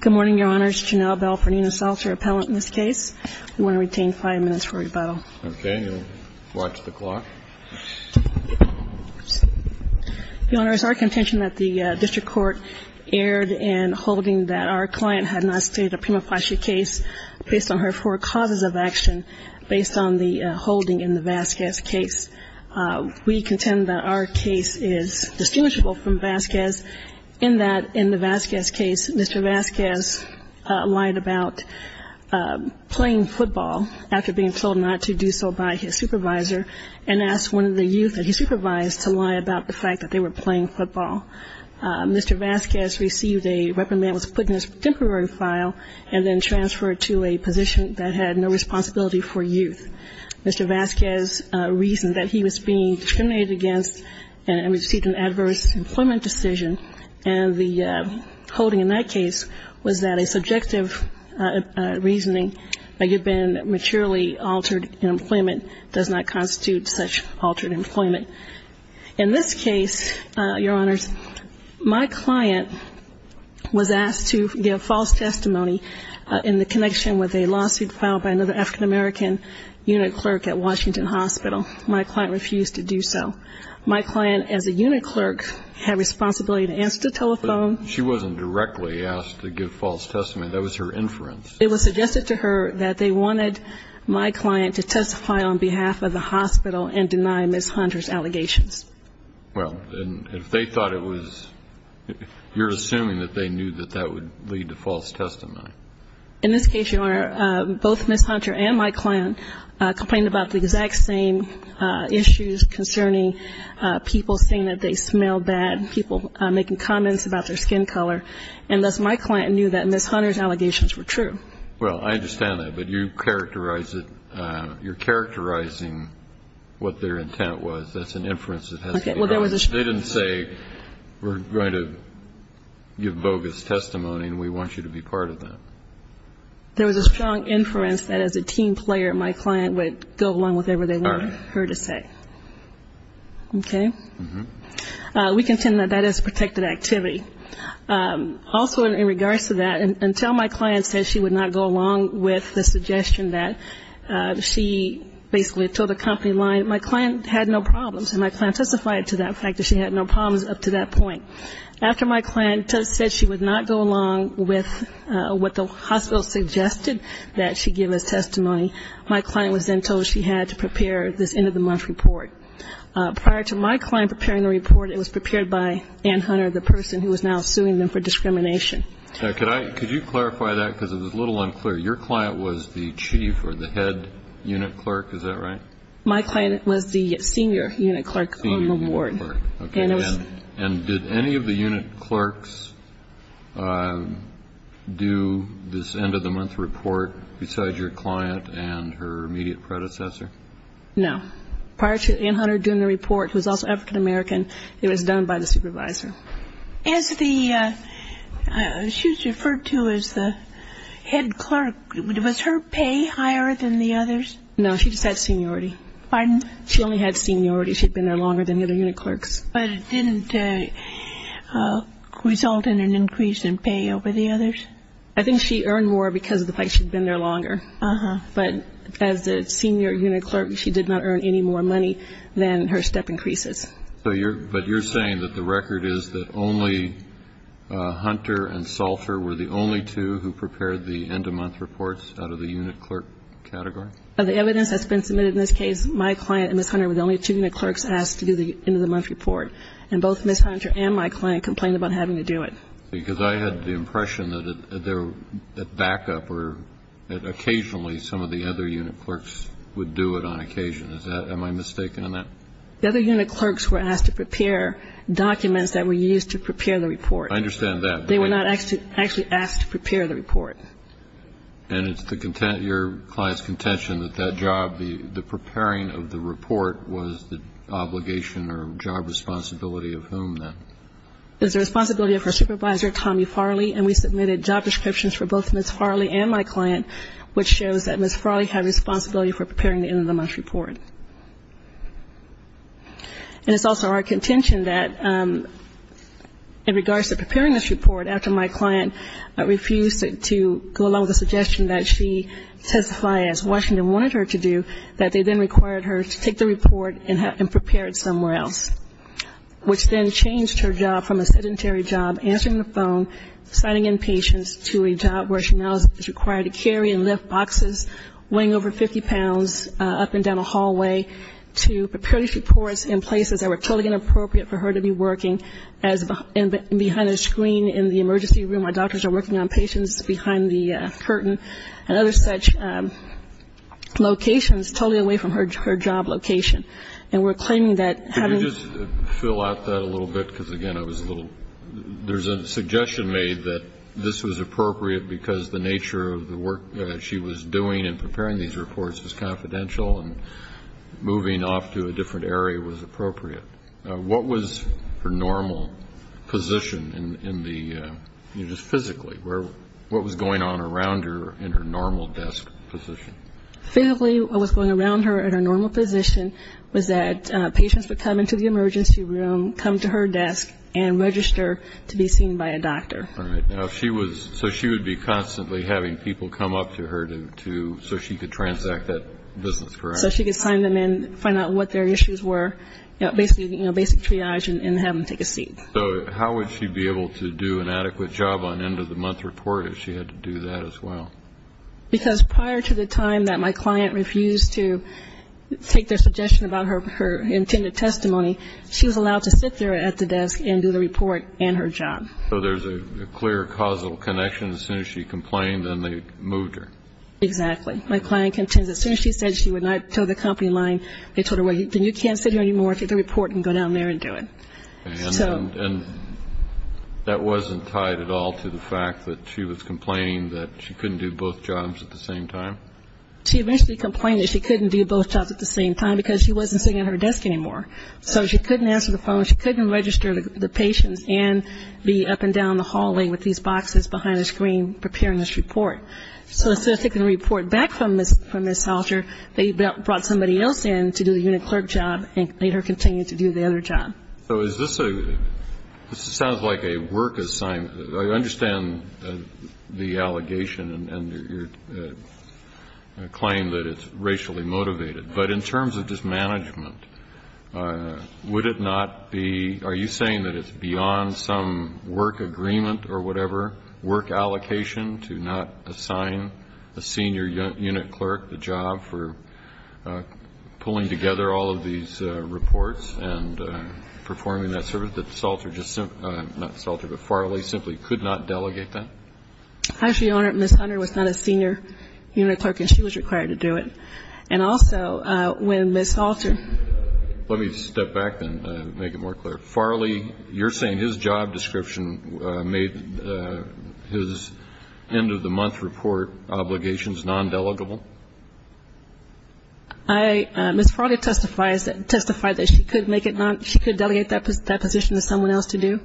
Good morning, Your Honors. Janelle Bell for Nina Salter, appellant in this case. We want to retain five minutes for rebuttal. Okay, you'll watch the clock. Your Honors, our contention that the district court erred in holding that our client had not stated a prima facie case based on her four causes of action based on the holding in the Vasquez case. We contend that our case is distinguishable from Vasquez in that in the Vasquez case, Mr. Vasquez lied about playing football after being told not to do so by his supervisor and asked one of the youth that he supervised to lie about the fact that they were playing football. Mr. Vasquez received a reprimand, was put in a temporary file and then transferred to a position that had no responsibility for youth. Mr. Vasquez reasoned that he was being discriminated against and received an adverse employment decision. And the holding in that case was that a subjective reasoning that he had been materially altered in employment does not constitute such altered employment. In this case, Your Honors, my client was asked to give false testimony in the connection with a lawsuit filed by another African American unit clerk at Washington Hospital. My client refused to do so. My client as a unit clerk had responsibility to answer the telephone. She wasn't directly asked to give false testimony. That was her inference. It was suggested to her that they wanted my client to testify on behalf of the hospital and deny Ms. Hunter's allegations. Well, if they thought it was, you're assuming that they knew that that would lead to false testimony. In this case, Your Honor, both Ms. Hunter and my client complained about the exact same issues concerning people saying that they smelled bad, people making comments about their skin color, and thus my client knew that Ms. Hunter's allegations were true. Well, I understand that, but you characterize it, you're characterizing what their intent was. That's an inference that has to be made. They didn't say we're going to give bogus testimony and we want you to be part of that. There was a strong inference that as a team player, my client would go along with whatever they wanted her to say. Okay. We contend that that is protected activity. Also in regards to that, until my client said she would not go along with the suggestion that she basically told the company line, my client had no problems and my client testified to that fact that she had no problems up to that point. After my client said she would not go along with what the hospital suggested that she give as testimony, my client was then told she had to prepare this end-of-the-month report. Prior to my client preparing the report, it was prepared by Anne Hunter, the person who is now suing them for discrimination. Could you clarify that because it was a little unclear. Your client was the chief or the head unit clerk, is that right? My client was the senior unit clerk on the ward. Senior unit clerk. Do this end-of-the-month report decide your client and her immediate predecessor? No. Prior to Anne Hunter doing the report, who is also African-American, it was done by the supervisor. She was referred to as the head clerk. Was her pay higher than the others? No, she just had seniority. Pardon? She only had seniority. She had been there longer than the other unit clerks. But it didn't result in an increase in pay over the others? I think she earned more because of the fact she had been there longer. Uh-huh. But as the senior unit clerk, she did not earn any more money than her step increases. But you're saying that the record is that only Hunter and Salter were the only two who prepared the end-of-month reports out of the unit clerk category? The evidence that's been submitted in this case, my client and Ms. Hunter were the only two unit clerks asked to do the end-of-the-month report. And both Ms. Hunter and my client complained about having to do it. Because I had the impression that at backup or occasionally some of the other unit clerks would do it on occasion. Am I mistaken on that? The other unit clerks were asked to prepare documents that were used to prepare the report. I understand that. They were not actually asked to prepare the report. And it's your client's contention that that job, the preparing of the report, was the obligation or job responsibility of whom then? It was the responsibility of her supervisor, Tommy Farley, and we submitted job descriptions for both Ms. Farley and my client, which shows that Ms. Farley had responsibility for preparing the end-of-the-month report. And it's also our contention that in regards to preparing this report, after my client refused to go along with the suggestion that she testify as Washington wanted her to do, that they then required her to take the report and prepare it somewhere else, which then changed her job from a sedentary job answering the phone, signing in patients to a job where she now is required to carry and lift boxes weighing over 50 pounds up and down a hallway to prepare these reports in places that were totally inappropriate for her to be working, as behind a screen in the emergency room where doctors are working on patients behind the curtain and other such locations totally away from her job location. And we're claiming that having... Could you just fill out that a little bit? Because, again, I was a little – there's a suggestion made that this was appropriate because the nature of the work that she was doing in preparing these reports was confidential and moving off to a different area was appropriate. What was her normal position in the – just physically? What was going on around her in her normal desk position? Physically, what was going on around her in her normal position was that patients would come into the emergency room, come to her desk, and register to be seen by a doctor. All right. Now, she was – so she would be constantly having people come up to her to – so she could transact that business, correct? So she could sign them in, find out what their issues were, basic triage, and have them take a seat. So how would she be able to do an adequate job on end-of-the-month report if she had to do that as well? Because prior to the time that my client refused to take their suggestion about her intended testimony, she was allowed to sit there at the desk and do the report and her job. So there's a clear causal connection. As soon as she complained, then they moved her. Exactly. And my client contends as soon as she said she would not tow the company line, they told her, well, then you can't sit here anymore. Take the report and go down there and do it. And that wasn't tied at all to the fact that she was complaining that she couldn't do both jobs at the same time? She eventually complained that she couldn't do both jobs at the same time because she wasn't sitting at her desk anymore. So she couldn't answer the phone, she couldn't register the patients and be up and down the hallway with these boxes behind the screen preparing this report. So as soon as they can report back from Ms. Salter, they brought somebody else in to do the unit clerk job and made her continue to do the other job. So is this a – this sounds like a work assignment. I understand the allegation and your claim that it's racially motivated. But in terms of this management, would it not be – are you saying that it's beyond some work agreement or whatever work allocation to not assign a senior unit clerk the job for pulling together all of these reports and performing that service that Salter just – not Salter, but Farley simply could not delegate that? Actually, Your Honor, Ms. Hunter was not a senior unit clerk and she was required to do it. And also when Ms. Salter – Let me step back and make it more clear. Ms. Farley, you're saying his job description made his end-of-the-month report obligations non-delegable? Ms. Farley testified that she could make it not – she could delegate that position to someone else to do.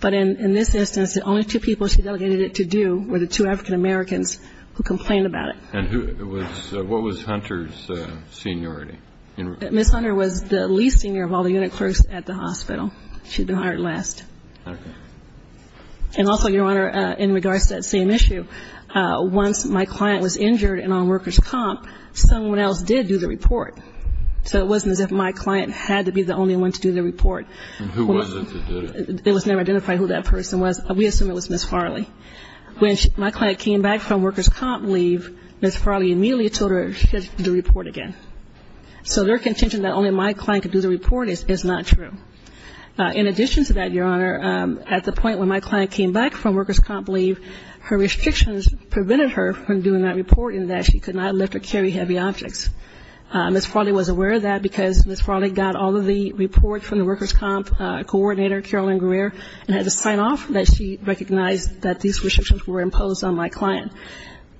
But in this instance, the only two people she delegated it to do were the two African-Americans who complained about it. And who was – what was Hunter's seniority? Ms. Hunter was the least senior of all the unit clerks at the hospital. She had been hired last. And also, Your Honor, in regards to that same issue, once my client was injured and on workers' comp, someone else did do the report. So it wasn't as if my client had to be the only one to do the report. And who was it that did it? It was never identified who that person was. We assume it was Ms. Farley. When my client came back from workers' comp leave, Ms. Farley immediately told her she had to do the report again. So their contention that only my client could do the report is not true. In addition to that, Your Honor, at the point when my client came back from workers' comp leave, her restrictions prevented her from doing that report in that she could not lift or carry heavy objects. Ms. Farley was aware of that because Ms. Farley got all of the reports from the workers' comp coordinator, Carolyn Greer, and had to sign off that she recognized that these restrictions were imposed on my client.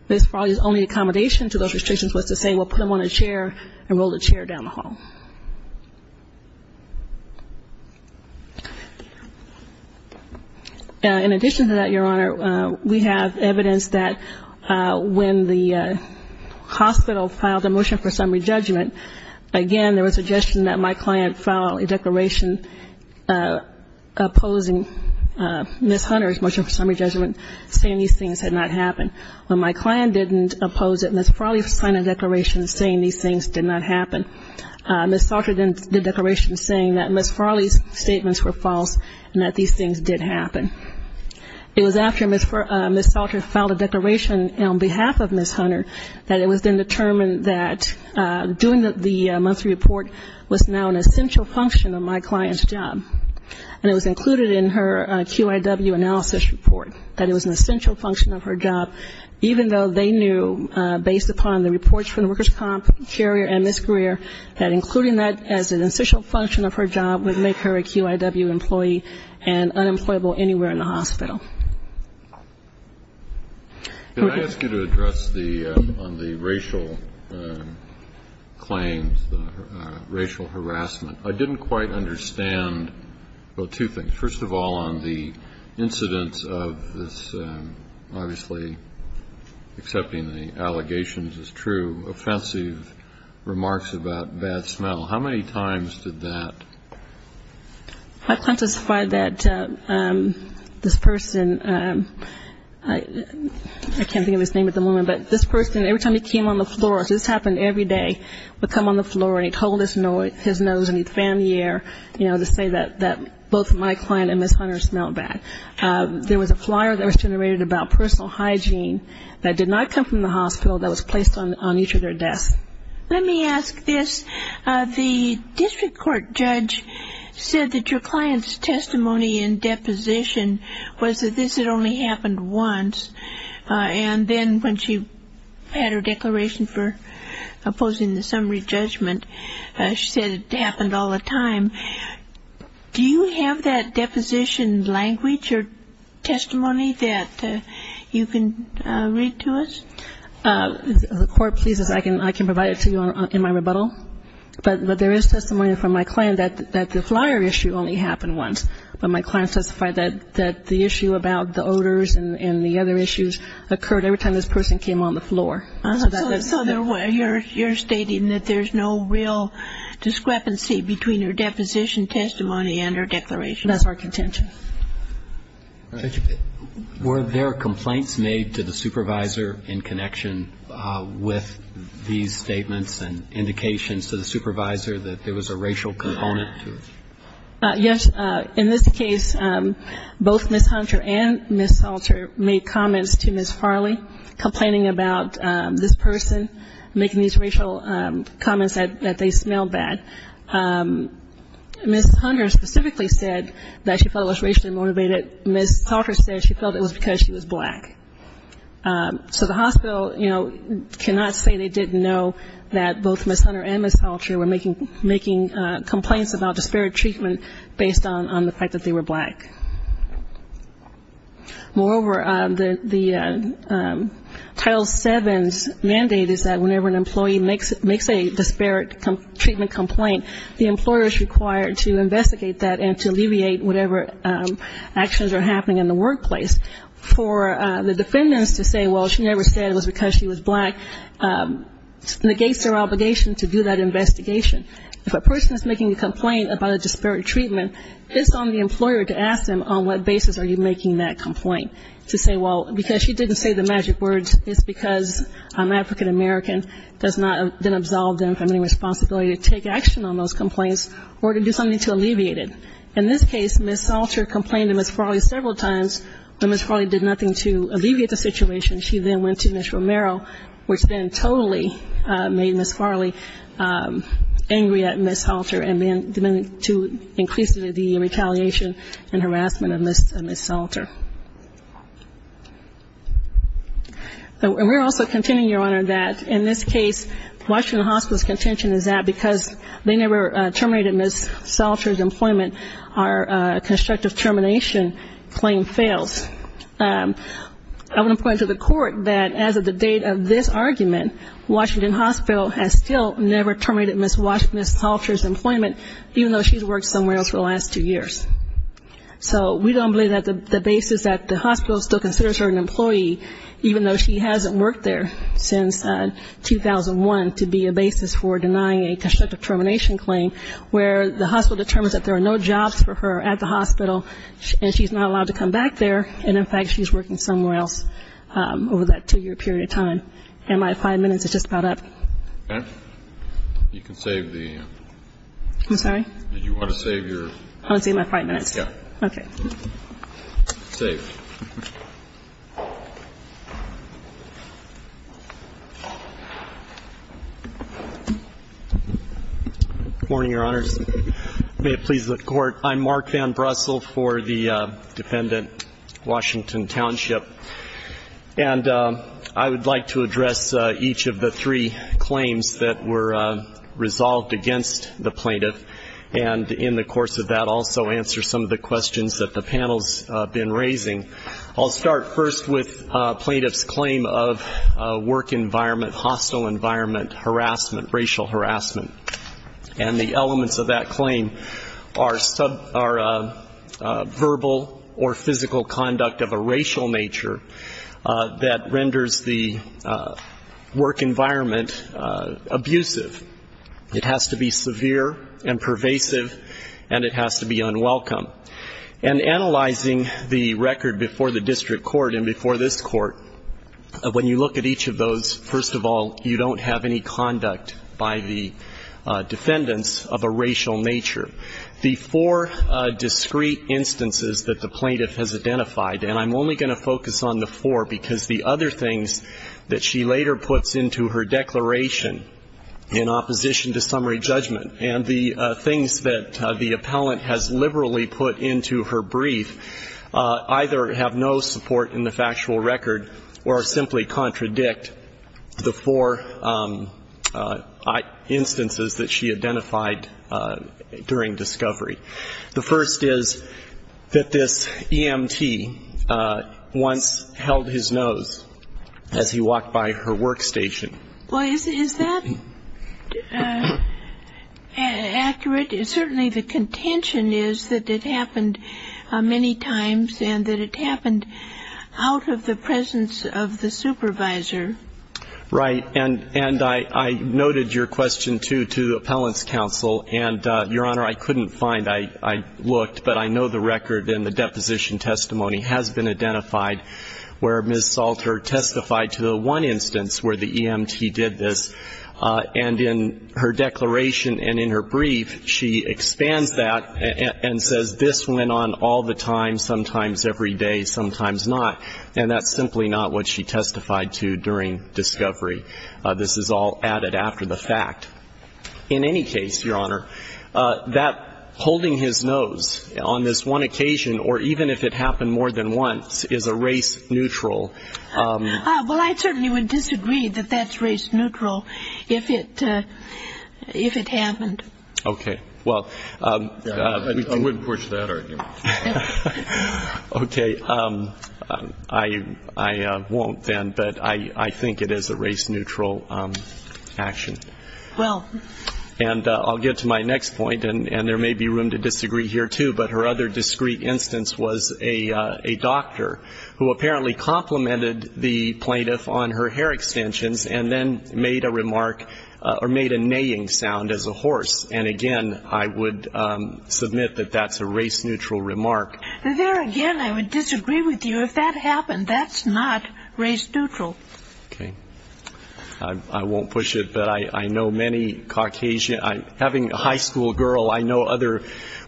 Ms. Farley's only accommodation to those restrictions was to say, well, put him on a chair and roll the chair down the hall. In addition to that, Your Honor, we have evidence that when the hospital filed a motion for summary judgment, again, there was suggestion that my client file a declaration opposing Ms. Hunter's motion for summary judgment, saying these things had not happened. When my client didn't oppose it, Ms. Farley signed a declaration saying these things did not happen. Ms. Salter did a declaration saying that Ms. Farley's statements were false and that these things did happen. It was after Ms. Salter filed a declaration on behalf of Ms. Hunter that it was then determined that doing the monthly report was now an essential function of my client's job. And it was included in her QIW analysis report, that it was an essential function of her job, even though they knew, based upon the reports from the workers' comp carrier and Ms. Greer, that including that as an essential function of her job would make her a QIW employee and unemployable anywhere in the hospital. Can I ask you to address the racial claims, racial harassment? I didn't quite understand, well, two things. First of all, on the incidence of this, obviously accepting the allegations is true, offensive remarks about bad smell. How many times did that? I've testified that this person, I can't think of his name at the moment, but this person, every time he came on the floor, this happened every day, would come on the floor and he'd hold his nose and he'd fan the air to say that both my client and Ms. Hunter smelled bad. There was a flyer that was generated about personal hygiene that did not come from the hospital, that was placed on each of their desks. Let me ask this, the district court judge said that your client's testimony in deposition was that this had only happened once, and then when she had her declaration for opposing the summary judgment, she said it happened all the time. Do you have that deposition language or testimony that you can read to us? The court pleases, I can provide it to you in my rebuttal. But there is testimony from my client that the flyer issue only happened once, but my client testified that the issue about the odors and the other issues occurred every time this person came on the floor. So you're stating that there's no real discrepancy between her deposition testimony and her declaration of her contention. Were there complaints made to the supervisor in connection with these statements and indications to the supervisor that there was a racial component to it? Yes, in this case, both Ms. Hunter and Ms. Salter made comments to Ms. Farley, complaining about this person making these racial comments that they smelled bad. Ms. Hunter specifically said that she felt it was racially motivated. Ms. Salter said she felt it was because she was black. So the hospital, you know, cannot say they didn't know that both Ms. Hunter and Ms. Salter were making complaints about disparate treatment based on the fact that they were black. Moreover, the Title VII's mandate is that whenever an employee makes a disparate treatment complaint, the employer is required to investigate that and to alleviate whatever actions are happening in the workplace. For the defendants to say, well, she never said it was because she was black, negates their obligation to do that investigation. If a person is making a complaint about a disparate treatment, it's on the employer to ask them, on what basis are you making that complaint? To say, well, because she didn't say the magic words, it's because I'm African-American, does not then absolve them from any responsibility to take action on those complaints or to do something to alleviate it. In this case, Ms. Salter complained to Ms. Farley several times, but Ms. Farley did nothing to alleviate the situation. She then went to Ms. Romero, which then totally made Ms. Farley angry at Ms. Salter and then to increase the retaliation and harassment of Ms. Salter. And we're also contending, Your Honor, that in this case, Washington Hospital's contention is that because they never terminated Ms. Salter's employment, our constructive termination claim fails. I want to point to the court that as of the date of this argument, Washington Hospital has still never terminated Ms. Salter's employment, even though she's worked somewhere else for the last two years. So we don't believe that the basis that the hospital still considers her an employee, even though she hasn't worked there since 2001, to be a basis for denying a constructive termination claim, where the hospital determines that there are no jobs for her at the hospital and she's not allowed to come back there, and in fact she's working somewhere else over that two-year period of time. And my five minutes is just about up. Okay. You can save the... I'm sorry? Did you want to save your... I want to save my five minutes. Yeah. Okay. Save. Good morning, Your Honors. May it please the Court. I'm Mark Van Brussel for the defendant, Washington Township. And I would like to address each of the three claims that were resolved against the plaintiff and in the course of that also answer some of the questions that the panel's been raising. I'll start first with plaintiff's claim of work environment, hostile environment, harassment, racial harassment. And the elements of that claim are verbal or physical conduct of a racial nature that renders the work environment abusive. It has to be severe and pervasive, and it has to be unwelcome. And analyzing the record before the district court and before this court, when you look at each of those, first of all, you don't have any conduct by the defendants of a racial nature. The four discrete instances that the plaintiff has identified, and I'm only going to focus on the four, because the other things that she later puts into her declaration in opposition to summary judgment and the things that the appellant has liberally put into her brief either have no support in the factual record or simply contradict the four instances that she identified during discovery. The first is that this EMT once held his nose as he walked by her workstation. Well, is that accurate? Certainly the contention is that it happened many times and that it happened out of the presence of the supervisor. Right. And I noted your question, too, to the appellant's counsel. And, Your Honor, I couldn't find, I looked, but I know the record in the deposition testimony has been identified where Ms. Salter testified to the one instance where the EMT did this. And in her declaration and in her brief, she expands that and says this went on all the time, sometimes every day, sometimes not, and that's simply not what she testified to during discovery. This is all added after the fact. In any case, Your Honor, that holding his nose on this one occasion or even if it happened more than once is a race neutral. Well, I certainly would disagree that that's race neutral if it happened. Okay. Well, I wouldn't push that argument. Okay. I won't then, but I think it is a race neutral action. Well. And I'll get to my next point, and there may be room to disagree here, too, but her other discreet instance was a doctor who apparently complimented the plaintiff on her hair extensions and then made a remark or made a neighing sound as a horse. And, again, I would submit that that's a race neutral remark. There again, I would disagree with you if that happened. That's not race neutral. Okay. I won't push it, but I know many Caucasians. Having a high school girl, I know other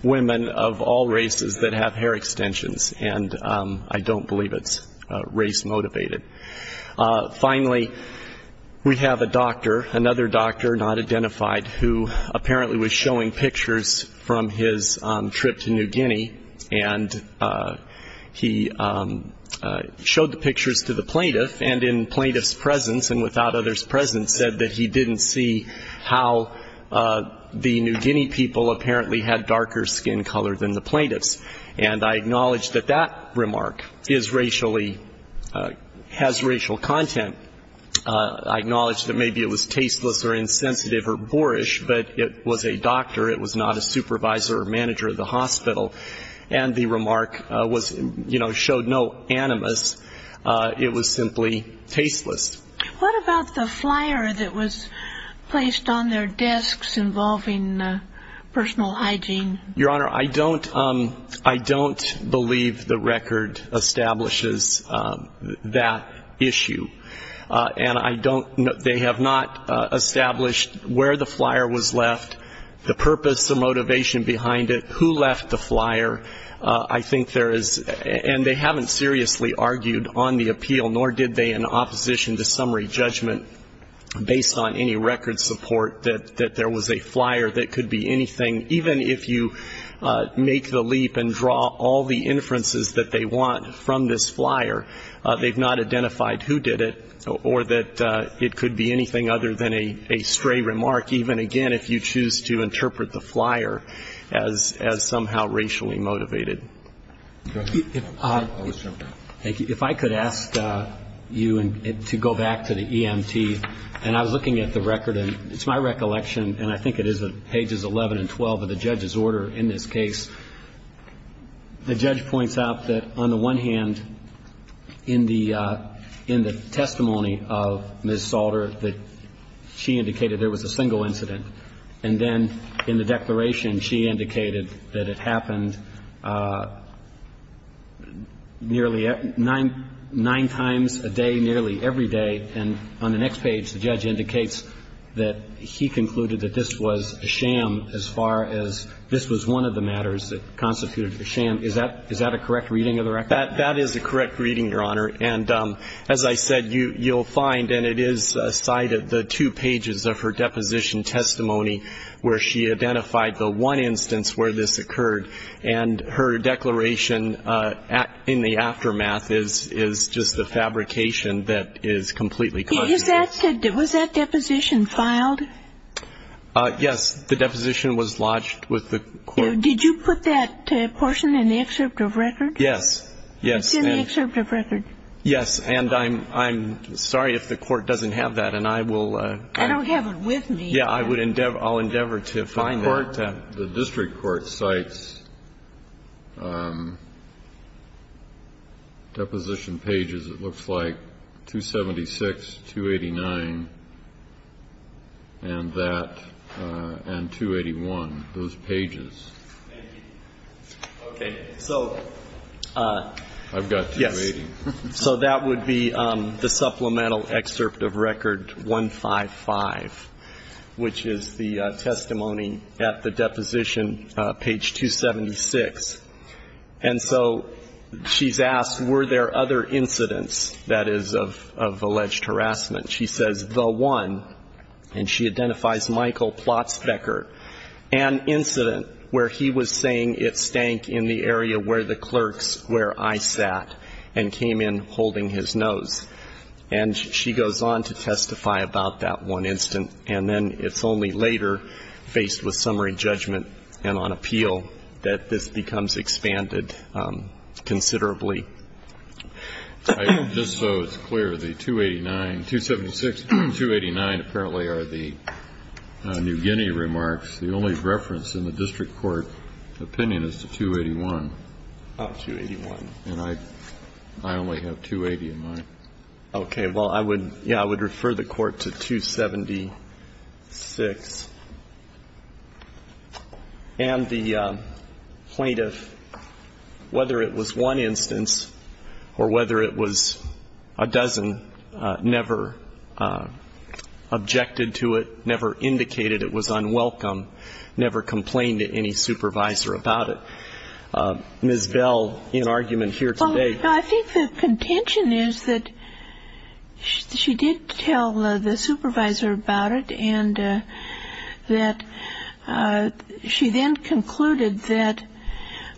women of all races that have hair extensions, and I don't believe it's race motivated. Finally, we have a doctor, another doctor not identified, who apparently was showing pictures from his trip to New Guinea, and he showed the pictures to the plaintiff, and in plaintiff's presence and without other's presence, said that he didn't see how the New Guinea people apparently had darker skin color than the plaintiffs. And I acknowledge that that remark is racially, has racial content. I acknowledge that maybe it was tasteless or insensitive or boorish, but it was a doctor. It was not a supervisor or manager of the hospital. And the remark was, you know, showed no animus. It was simply tasteless. What about the flyer that was placed on their desks involving personal hygiene? Your Honor, I don't believe the record establishes that issue. And I don't, they have not established where the flyer was left, the purpose, the motivation behind it, who left the flyer. I think there is, and they haven't seriously argued on the appeal, nor did they in opposition to summary judgment, based on any record support, that there was a flyer that could be anything. Even if you make the leap and draw all the inferences that they want from this flyer, they've not identified who did it or that it could be anything other than a stray remark, even, again, if you choose to interpret the flyer as somehow racially motivated. Thank you. If I could ask you to go back to the EMT. And I was looking at the record, and it's my recollection, and I think it is at pages 11 and 12 of the judge's order in this case, the judge points out that on the one hand, in the testimony of Ms. Salter, that she indicated there was a single incident. And then in the declaration, she indicated that it happened nearly nine times a day, nearly every day. And on the next page, the judge indicates that he concluded that this was a sham as far as this was one of the matters, it constituted a sham. Is that a correct reading of the record? That is a correct reading, Your Honor. And as I said, you'll find, and it is cited, the two pages of her deposition testimony, where she identified the one instance where this occurred. And her declaration in the aftermath is just the fabrication that is completely contrary. Was that deposition filed? Yes. The deposition was lodged with the court. Did you put that portion in the excerpt of record? Yes. And I'm sorry if the court doesn't have that. I don't have it with me. Yeah, I'll endeavor to find that. The district court cites deposition pages, it looks like, 276, 289, and that, and 281, those pages. Thank you. Okay. So that would be the supplemental excerpt of record 155. Which is the testimony at the deposition, page 276. And so she's asked, were there other incidents, that is, of alleged harassment? She says, the one, and she identifies Michael Plotzbecker, an incident where he was saying it stank in the area where the clerks, where I sat, and came in holding his nose. And she goes on to testify about that one incident. And then it's only later, faced with summary judgment and on appeal, that this becomes expanded considerably. Just so it's clear, the 289, 276 and 289 apparently are the New Guinea remarks. The only reference in the district court opinion is the 281. Oh, 281. And I only have 280 in mind. Okay. Well, I would, yeah, I would refer the Court to 276. And the plaintiff, whether it was one instance or whether it was a dozen, never objected to it, never indicated it was unwelcome, never complained to any supervisor about it. Ms. Bell, in argument here today. Well, I think the contention is that she did tell the supervisor about it, and that she then concluded that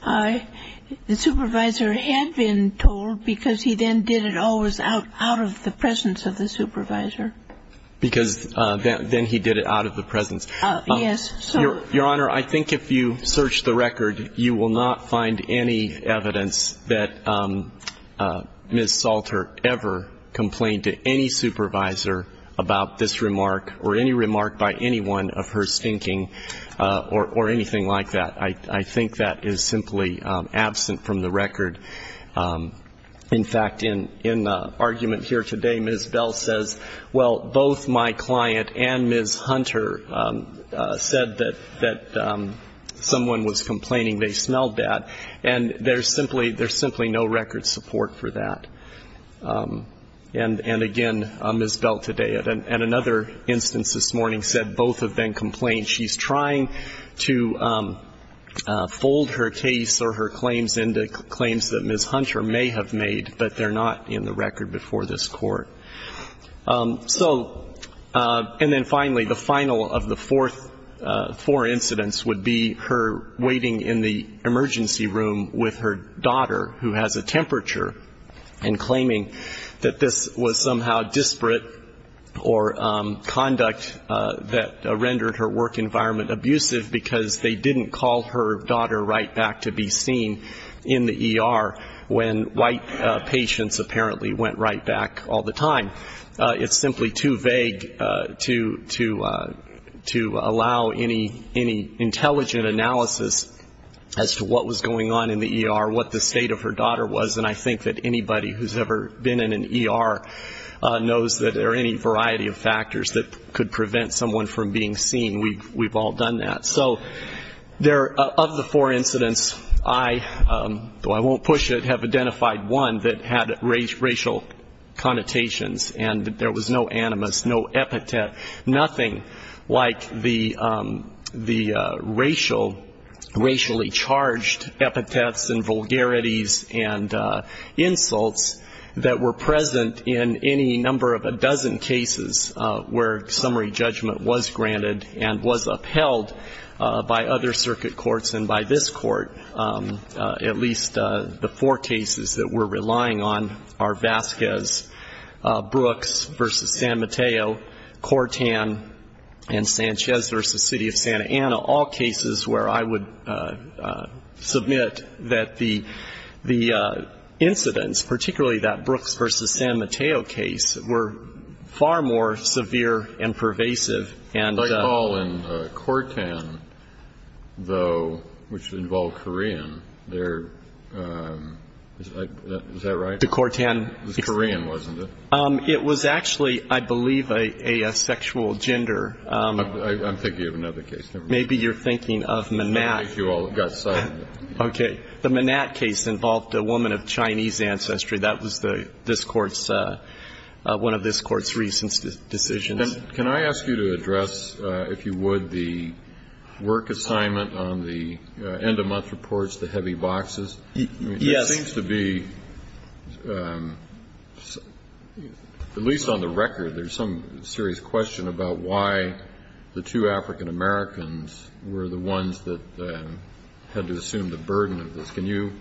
the supervisor had been told because he then did it always out of the presence of the supervisor. Because then he did it out of the presence. Yes. Your Honor, I think if you search the record, you will not find any evidence that Ms. Salter ever complained to any supervisor about this remark or any remark by anyone of her stinking or anything like that. I think that is simply absent from the record. In fact, in argument here today, Ms. Bell says, well, both my client and Ms. Hunter said that someone was complaining they smelled bad. And there's simply no record support for that. And, again, Ms. Bell today and another instance this morning said both have been complained. She's trying to fold her case or her claims into claims that Ms. Hunter may have made, but they're not in the record before this Court. So, and then finally, the final of the four incidents would be her waiting in the emergency room with her daughter, who has a temperature, and claiming that this was somehow disparate or conduct that rendered her work environment abusive because they didn't call her daughter right back to be seen in the ER when white patients apparently went right back all the time. It's simply too vague to allow any intelligent analysis as to what was going on in the ER, what the state of her daughter was. And I think that anybody who's ever been in an ER knows that there are any variety of factors that could prevent someone from being seen. We've all done that. So of the four incidents, I, though I won't push it, have identified one that had racial connotations, and there was no animus, no epithet, nothing like the racial, racially charged epithets and vulgarities and insults that were present in any number of a dozen cases where summary judgment was granted and was upheld by other circuit courts and by this court. At least the four cases that we're relying on are Vasquez, Brooks v. San Mateo, Cortan, and Sanchez v. City of Santa Ana, all cases where I would submit that the racial connotations were far more severe and pervasive. And I call in Cortan, though, which involved Korean. Is that right? The Cortan. It was Korean, wasn't it? It was actually, I believe, a sexual gender. I'm thinking of another case. Maybe you're thinking of Manat. Okay. The Manat case involved a woman of Chinese ancestry. That was this Court's, one of this Court's recent decisions. Can I ask you to address, if you would, the work assignment on the end-of-month reports, the heavy boxes? Yes. It seems to be, at least on the record, there's some serious question about why the two African-Americans were the ones that had to assume the burden of this. Can you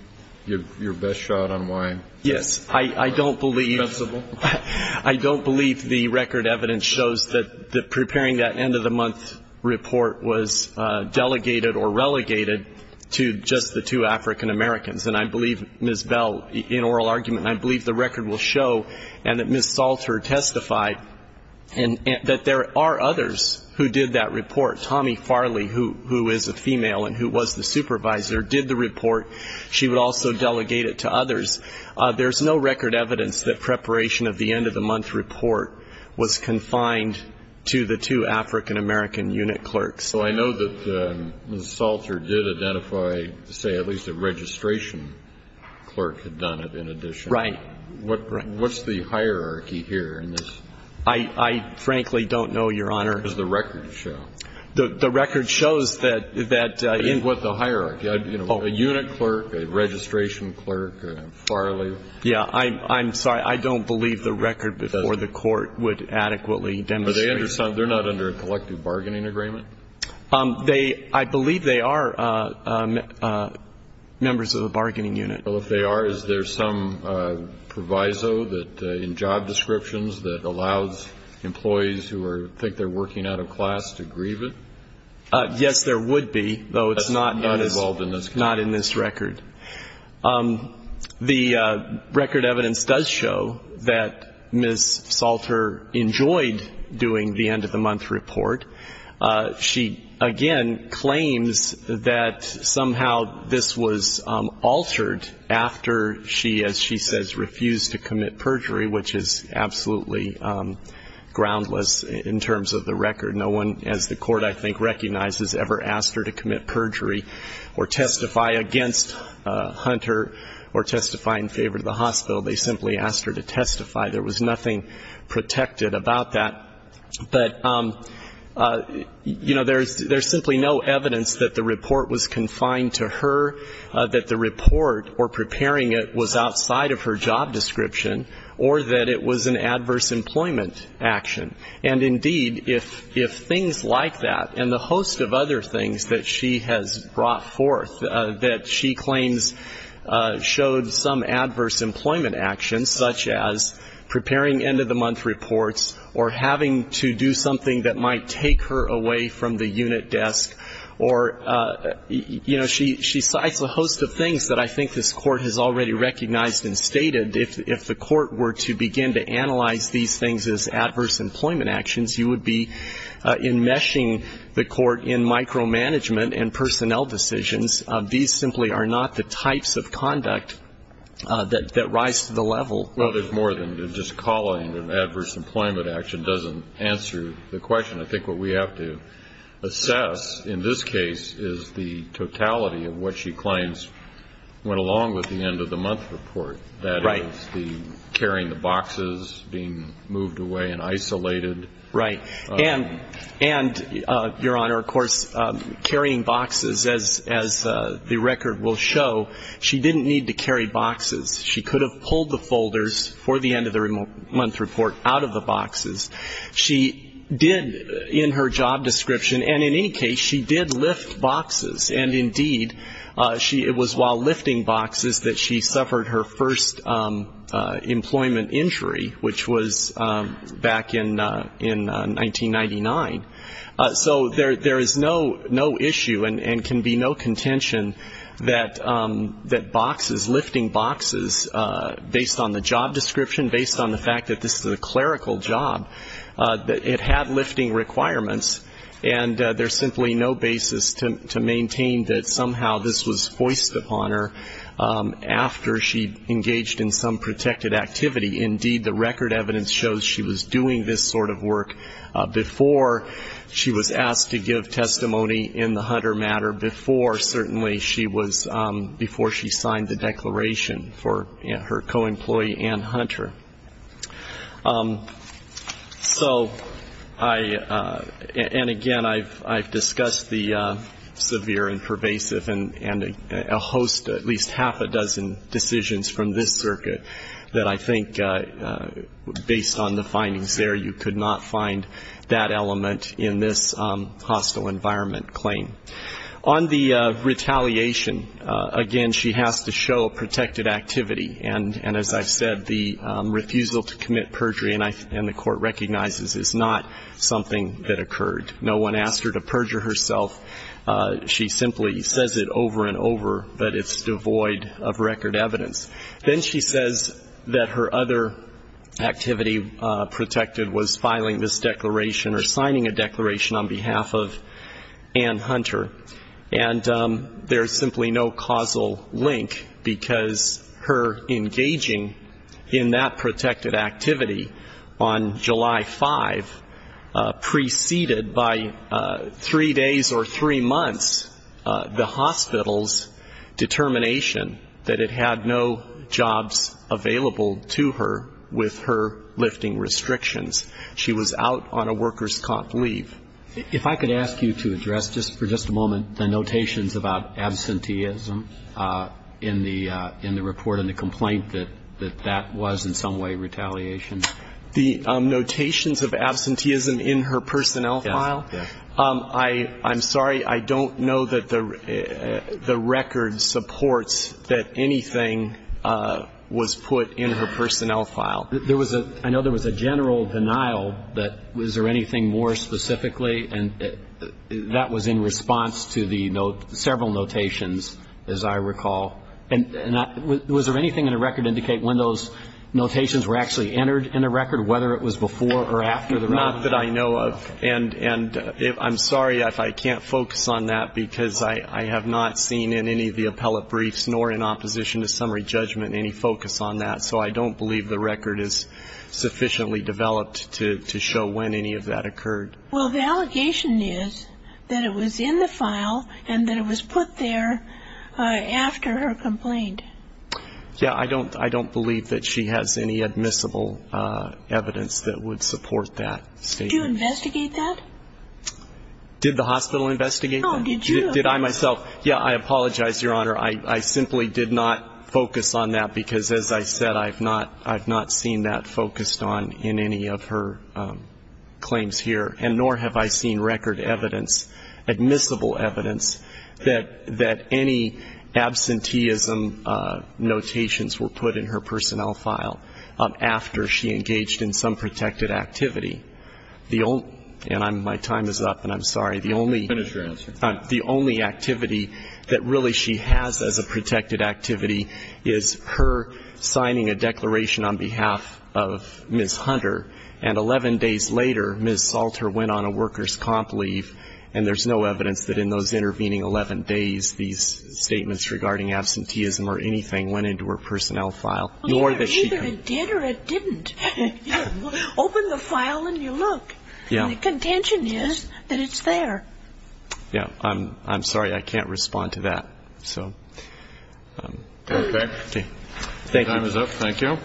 give your best shot on why? Yes. I don't believe the record evidence shows that preparing that end-of-the-month report was delegated or delegated to Ms. Bell in oral argument. And I believe the record will show, and that Ms. Salter testified, that there are others who did that report. Tommy Farley, who is a female and who was the supervisor, did the report. She would also delegate it to others. There's no record evidence that preparation of the end-of-the-month report was confined to the two African-American unit clerks. So I know that Ms. Salter did identify, say, at least a registration clerk had done it in addition. Right. What's the hierarchy here in this? I frankly don't know, Your Honor. Does the record show? The record shows that the hierarchy, you know, a unit clerk, a registration clerk, Farley. Yeah. I'm sorry. I don't believe the record before the court would adequately demonstrate. They're not under a collective bargaining agreement? I believe they are members of the bargaining unit. Well, if they are, is there some proviso in job descriptions that allows employees who think they're working out of class to receive it? Yes, there would be, though it's not in this record. The record evidence does show that Ms. Salter enjoyed doing the end-of-the-month report. She, again, claims that somehow this was altered after she, as she says, refused to commit perjury, which is absolutely groundless in terms of the record. No one, as the court I think recognizes, ever asked her to commit perjury or testify against Hunter or testify in favor of the hospital. They simply asked her to testify. There was nothing protected about that. But, you know, there's simply no evidence that the report was confined to her, that the report or preparing it was outside of her job description, or that it was an adverse employment action. And indeed, if things like that and the host of other things that she has brought forth that she claims showed some adverse employment actions, such as preparing end-of-the-month reports or having to do something that might take her away from the unit desk, or, you know, she cites a host of things that I think this court has already recognized and stated. If the court were to begin to analyze these things as adverse employment actions, you would be enmeshing the court in micromanagement and personnel decisions. These simply are not the types of conduct that rise to the level. Well, there's more than just calling an adverse employment action doesn't answer the question. I think what we have to assess in this case is the totality of what she claims went along with the end-of-the-month report, that is, the carrying the boxes, being moved away and isolated. Right. And, Your Honor, of course, carrying boxes, as the record will show, she didn't need to carry boxes. She could have pulled the folders for the end-of-the-month report out of the boxes. She did, in her job description, and in any case, she did lift boxes. And indeed, it was while lifting boxes that she suffered her first employment injury, which was back in 1997. So there is no issue and can be no contention that boxes, lifting boxes, based on the job description, based on the fact that this is a clerical job, it had lifting requirements, and there's simply no basis to maintain that somehow this was foisted upon her after she engaged in some protected activity. Indeed, the record evidence shows she was doing this sort of work before she was asked to give testimony in the Hunter matter, before certainly she was, before she signed the declaration for her co-employee and Hunter. So I, and again, I've discussed the severe and pervasive and a host, at least half a dozen decisions from this circuit, that I think, based on the findings there, you could not find that element in this hostile environment claim. On the retaliation, again, she has to show protected activity. And as I've said, the refusal to commit perjury, and the court recognizes, is not something that occurred. No one asked her to perjure herself. She simply says it over and over, but it's devoid of record evidence. Then she says that her other activity protected was filing this declaration or signing a declaration on behalf of Ann Hunter. And there's simply no causal link, because her engaging in that protected activity on July 5 preceded by three days or three weeks or three months the hospital's determination that it had no jobs available to her with her lifting restrictions. She was out on a worker's comp leave. If I could ask you to address just for just a moment the notations about absenteeism in the report and the complaint that that was in some way retaliation. The notations of absenteeism in her personnel file? I'm sorry, I don't know that the record supports that anything was put in her personnel file. I know there was a general denial, but was there anything more specifically? And that was in response to the several notations, as I recall. And was there anything in the record indicate when those notations were actually entered in the record, whether it was before or after the record? Not that I know of. And I'm sorry if I can't focus on that, because I have not seen in any of the appellate briefs nor in opposition to summary judgment any focus on that. So I don't believe the record is sufficiently developed to show when any of that occurred. Well, the allegation is that it was in the file and that it was put there after her complaint. Yeah, I don't believe that she has any admissible evidence that would support that. Did you investigate that? Did the hospital investigate that? No, did you? Did I myself? Yeah, I apologize, Your Honor. I simply did not focus on that because, as I said, I've not seen that focused on in any of her claims here, and nor have I seen record evidence, admissible evidence, that any absenteeism notations were put in her personnel file after she engaged in some protected activity. And my time is up, and I'm sorry. The only activity that really she has as a protected activity is her signing a declaration on behalf of Ms. Hunter, and 11 days later, Ms. Salter went on a workers' comp leave, and there's no evidence that in those intervening 11 days, these statements regarding absenteeism or anything went into her personnel file. Well, either it did or it didn't. Open the file and you'll look. Yeah. And the contention is that it's there. Yeah. I'm sorry. I can't respond to that. Okay. Time is up. Thank you.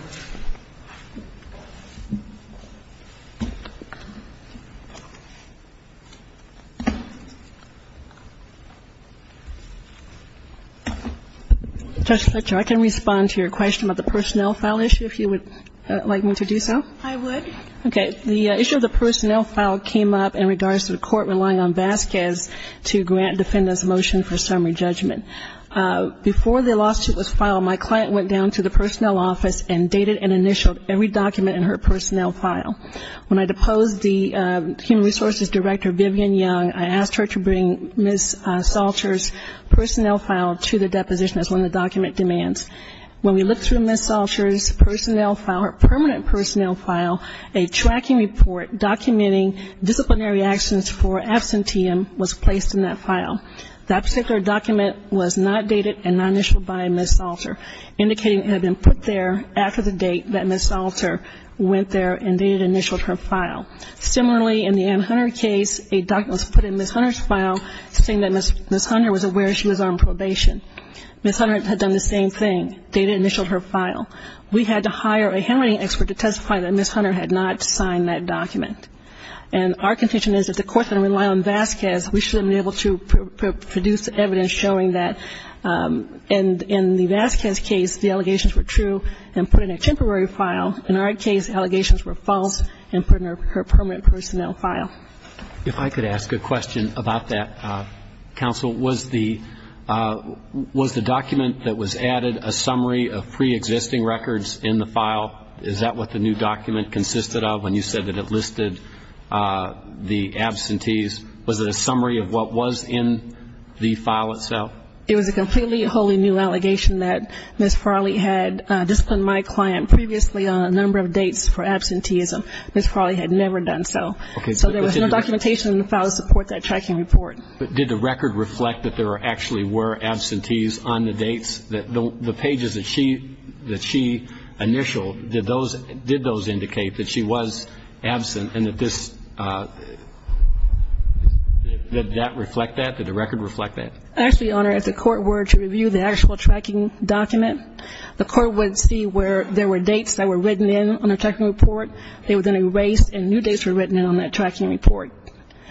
Judge Fletcher, I can respond to your question about the personnel file issue if you would like me to do so. I would. Okay. The issue of the personnel file came up in regards to the court relying on Vasquez to grant defendants a motion for summary judgment. Before the lawsuit was filed, my client went down to the personnel office and dated and initialed every document in her personnel file. When I deposed the human resources director, Vivian Young, I asked her to bring Ms. Salter's personnel file to the deposition as one of the document demands. When we looked through Ms. Salter's personnel file, her permanent personnel file, a tracking report documenting disciplinary actions for misconduct was not dated and not initialed by Ms. Salter, indicating it had been put there after the date that Ms. Salter went there and dated and initialed her file. Similarly, in the Ann Hunter case, a document was put in Ms. Hunter's file saying that Ms. Hunter was aware she was on probation. Ms. Hunter had done the same thing, dated and initialed her file. We had to hire a handwriting expert to testify that Ms. Hunter had not signed that document. And in the Vasquez case, the allegations were true and put in a temporary file. In our case, the allegations were false and put in her permanent personnel file. If I could ask a question about that, counsel. Was the document that was added a summary of preexisting records in the file? Is that what the new document consisted of when you said that it listed the absentees? Was it a summary of what was in the file itself? It was a completely wholly new allegation that Ms. Farley had disciplined my client previously on a number of dates for absenteeism. Ms. Farley had never done so. So there was no documentation in the file to support that tracking report. But did the record reflect that there actually were absentees on the dates? The pages that she initialed, did those indicate that she was absent and that this – did that reflect that? Did the record reflect that? Actually, Your Honor, if the court were to review the actual tracking document, the court would see where there were dates that were written in on the tracking report. They were then erased and new dates were written in on that tracking report.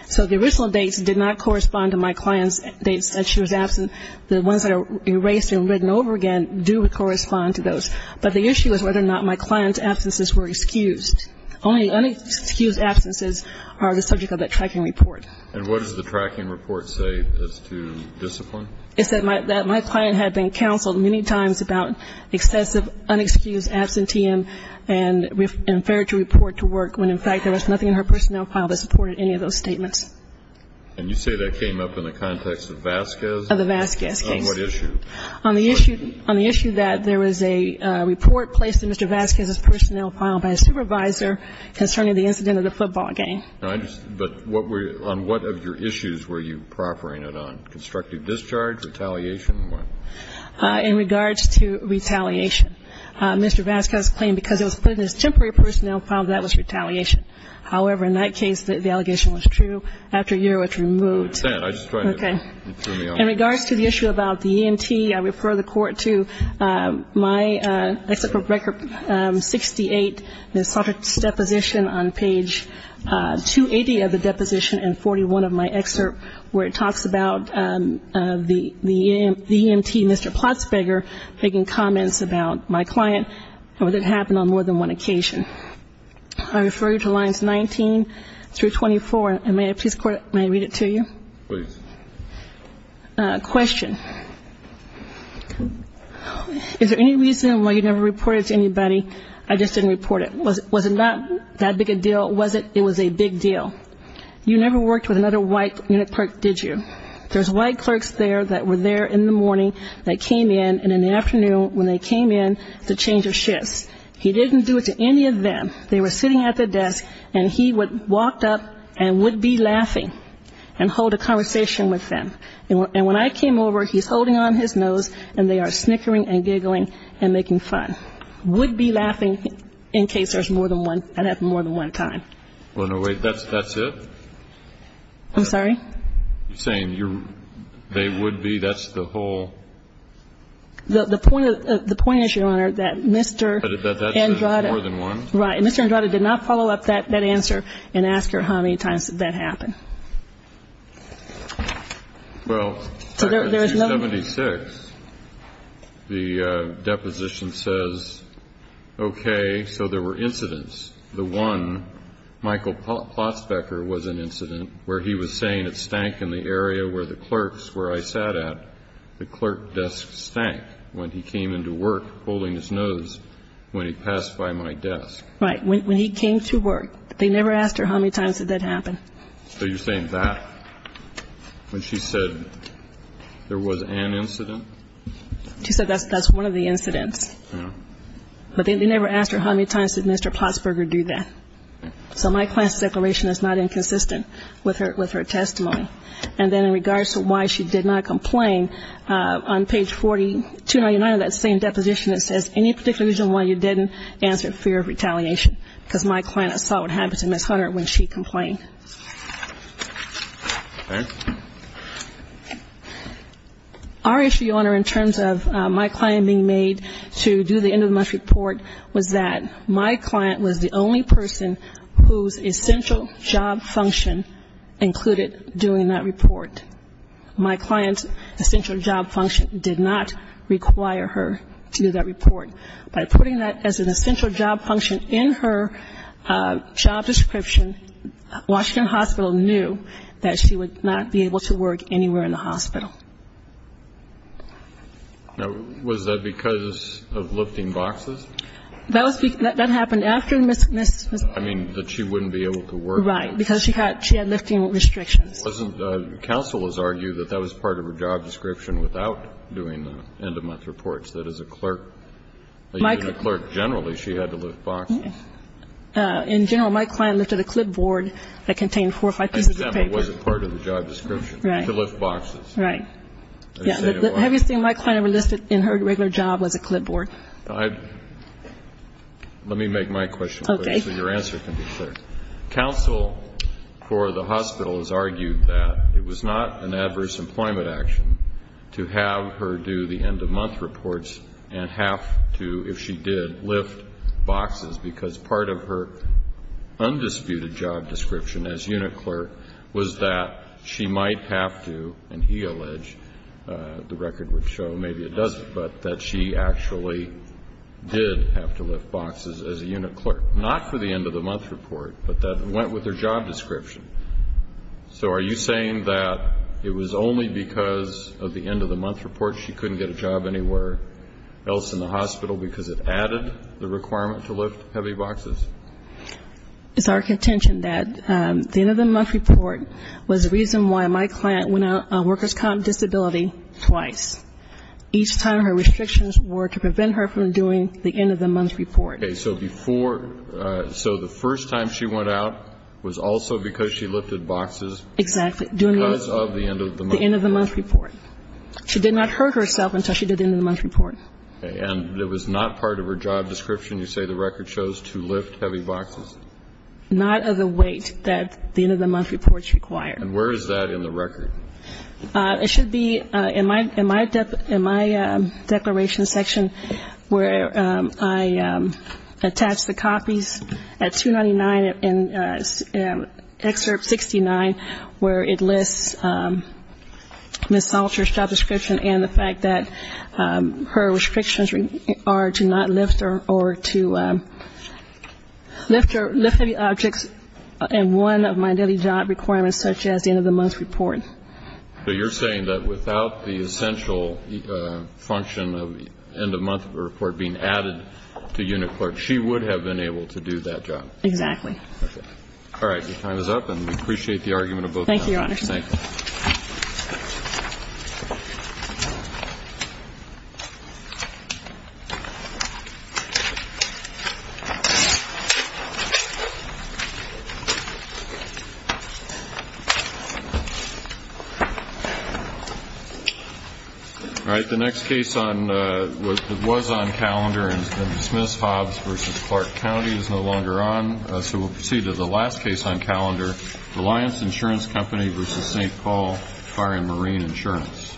So the original dates did not correspond to my client's dates that she was absent. The ones that are erased and written over again do correspond to those. But the issue is whether or not my client's absences were excused. Only unexcused absences are the subject of that tracking report. And what does the tracking report say as to discipline? It said that my client had been counseled many times about excessive unexcused absenteeism and we've inferred to report to work when, in fact, there was nothing in her personnel file that supported any of those statements. And you say that came up in the context of Vasquez? Of the Vasquez case. On what issue? On the issue that there was a report placed in Mr. Vasquez's personnel file by a supervisor concerning the incident of the football game. But on what of your issues were you proffering it on? Constructive discharge? Retaliation? In regards to retaliation. Mr. Vasquez claimed because it was put in his temporary personnel file that that was retaliation. However, in that case, the allegation was true. After a year, it was removed. Okay. In regards to the issue about the ENT, I refer the Court to my except for record 68, the subject's deposition on page 280 of the deposition and 41 of my excerpt where it talks about the EMT, Mr. Platzberger, making comments about my client and what had happened on more than one occasion. I refer you to lines 19 through 24. And may I please, Court, may I read it to you? Please. Question. Is there any reason why you never reported it to anybody? I just didn't report it. Was it not that big a deal? Was it? It was a big deal. You never worked with another white unit clerk, did you? There's white clerks there that were there in the morning that came in, and in the afternoon when they came in, the change of shifts. He didn't do it to any of them. They were sitting at the desk, and he would walk up and would be laughing and hold a conversation with them. And when I came over, he's holding on his nose, and they are snickering and giggling and making fun. Would be laughing in case there's more than one, had happened more than one time. Well, no, wait, that's it? I'm sorry? You're saying they would be? That's the whole? The point is, Your Honor, that Mr. Andrada. That that's more than one? Right. And Mr. Andrada did not follow up that answer and ask her how many times did that happen. Well, in 1976, the deposition says, okay, so there were incidents. The one, Michael Plotzbecker, was an incident where he was saying it stank in the area where the clerks where I sat at. The clerk desk stank when he came into work holding his nose when he passed by my desk. Right, when he came to work. They never asked her how many times did that happen. So you're saying that, when she said there was an incident? She said that's one of the incidents. Yeah. But they never asked her how many times did Mr. Plotzbecker do that. So my client's declaration is not inconsistent with her testimony. And then in regards to why she did not complain, on page 499 of that same deposition, it says any particular reason why you didn't answer, fear of retaliation, because my client saw what happened to Ms. Hunter when she complained. Our issue, Your Honor, in terms of my client being made to do the end-of-the-month report, was that my client was the only person whose essential job function included doing that report. My client's essential job function did not require her to do that report. By putting that as an essential job function in her job description, Washington Hospital knew that she would not be able to work anywhere in the hospital. Now, was that because of lifting boxes? That happened after Ms. Hunter. I mean, that she wouldn't be able to work. Right, because she had lifting restrictions. Counsel has argued that that was part of her job description without doing the end-of-month reports, that as a clerk, even a clerk generally, she had to lift boxes. In general, my client lifted a clipboard that contained four or five pieces of paper. It wasn't part of the job description. Right. To lift boxes. Right. The heaviest thing my client ever lifted in her regular job was a clipboard. Let me make my question clear so your answer can be clear. Counsel for the hospital has argued that it was not an adverse employment action to have her do the end-of-month reports and have to, if she did, lift boxes, because part of her undisputed job description as unit clerk was that she might have to, and he alleged, the record would show, maybe it doesn't, but that she actually did have to lift boxes as a unit clerk, not for the end-of-the-month reports, but that went with her job description. So are you saying that it was only because of the end-of-the-month reports she couldn't get a job anywhere else in the hospital because it added the requirement to lift heavy boxes? It's our contention that the end-of-the-month report was the reason why my client went on workers' comp disability twice. Each time her restrictions were to prevent her from doing the end-of-the-month report. Okay. So before, so the first time she went out was also because she lifted boxes? Exactly. Because of the end-of-the-month report. The end-of-the-month report. She did not hurt herself until she did the end-of-the-month report. Okay. And it was not part of her job description, you say the record shows, to lift heavy boxes? Not of the weight that the end-of-the-month reports require. And where is that in the record? It should be in my declaration section where I attach the copies at 299 in Excerpt 69, where it lists Ms. Salter's job description and the fact that her restrictions are to not lift or to lift heavy objects and one of my daily job requirements such as the end-of-the-month report. So you're saying that without the essential function of end-of-month report being added to unit clerk, she would have been able to do that job? Exactly. Okay. All right. Your time is up, and we appreciate the argument of both parties. Thank you, Your Honor. Thank you. All right. The next case that was on calendar and has been dismissed, Hobbs v. Clark County, is no longer on, so we'll proceed to the last case on calendar, Reliance Insurance Company v. St. Paul Fire and Marine Insurance. Thank you, Your Honor. Thank you, Your Honor.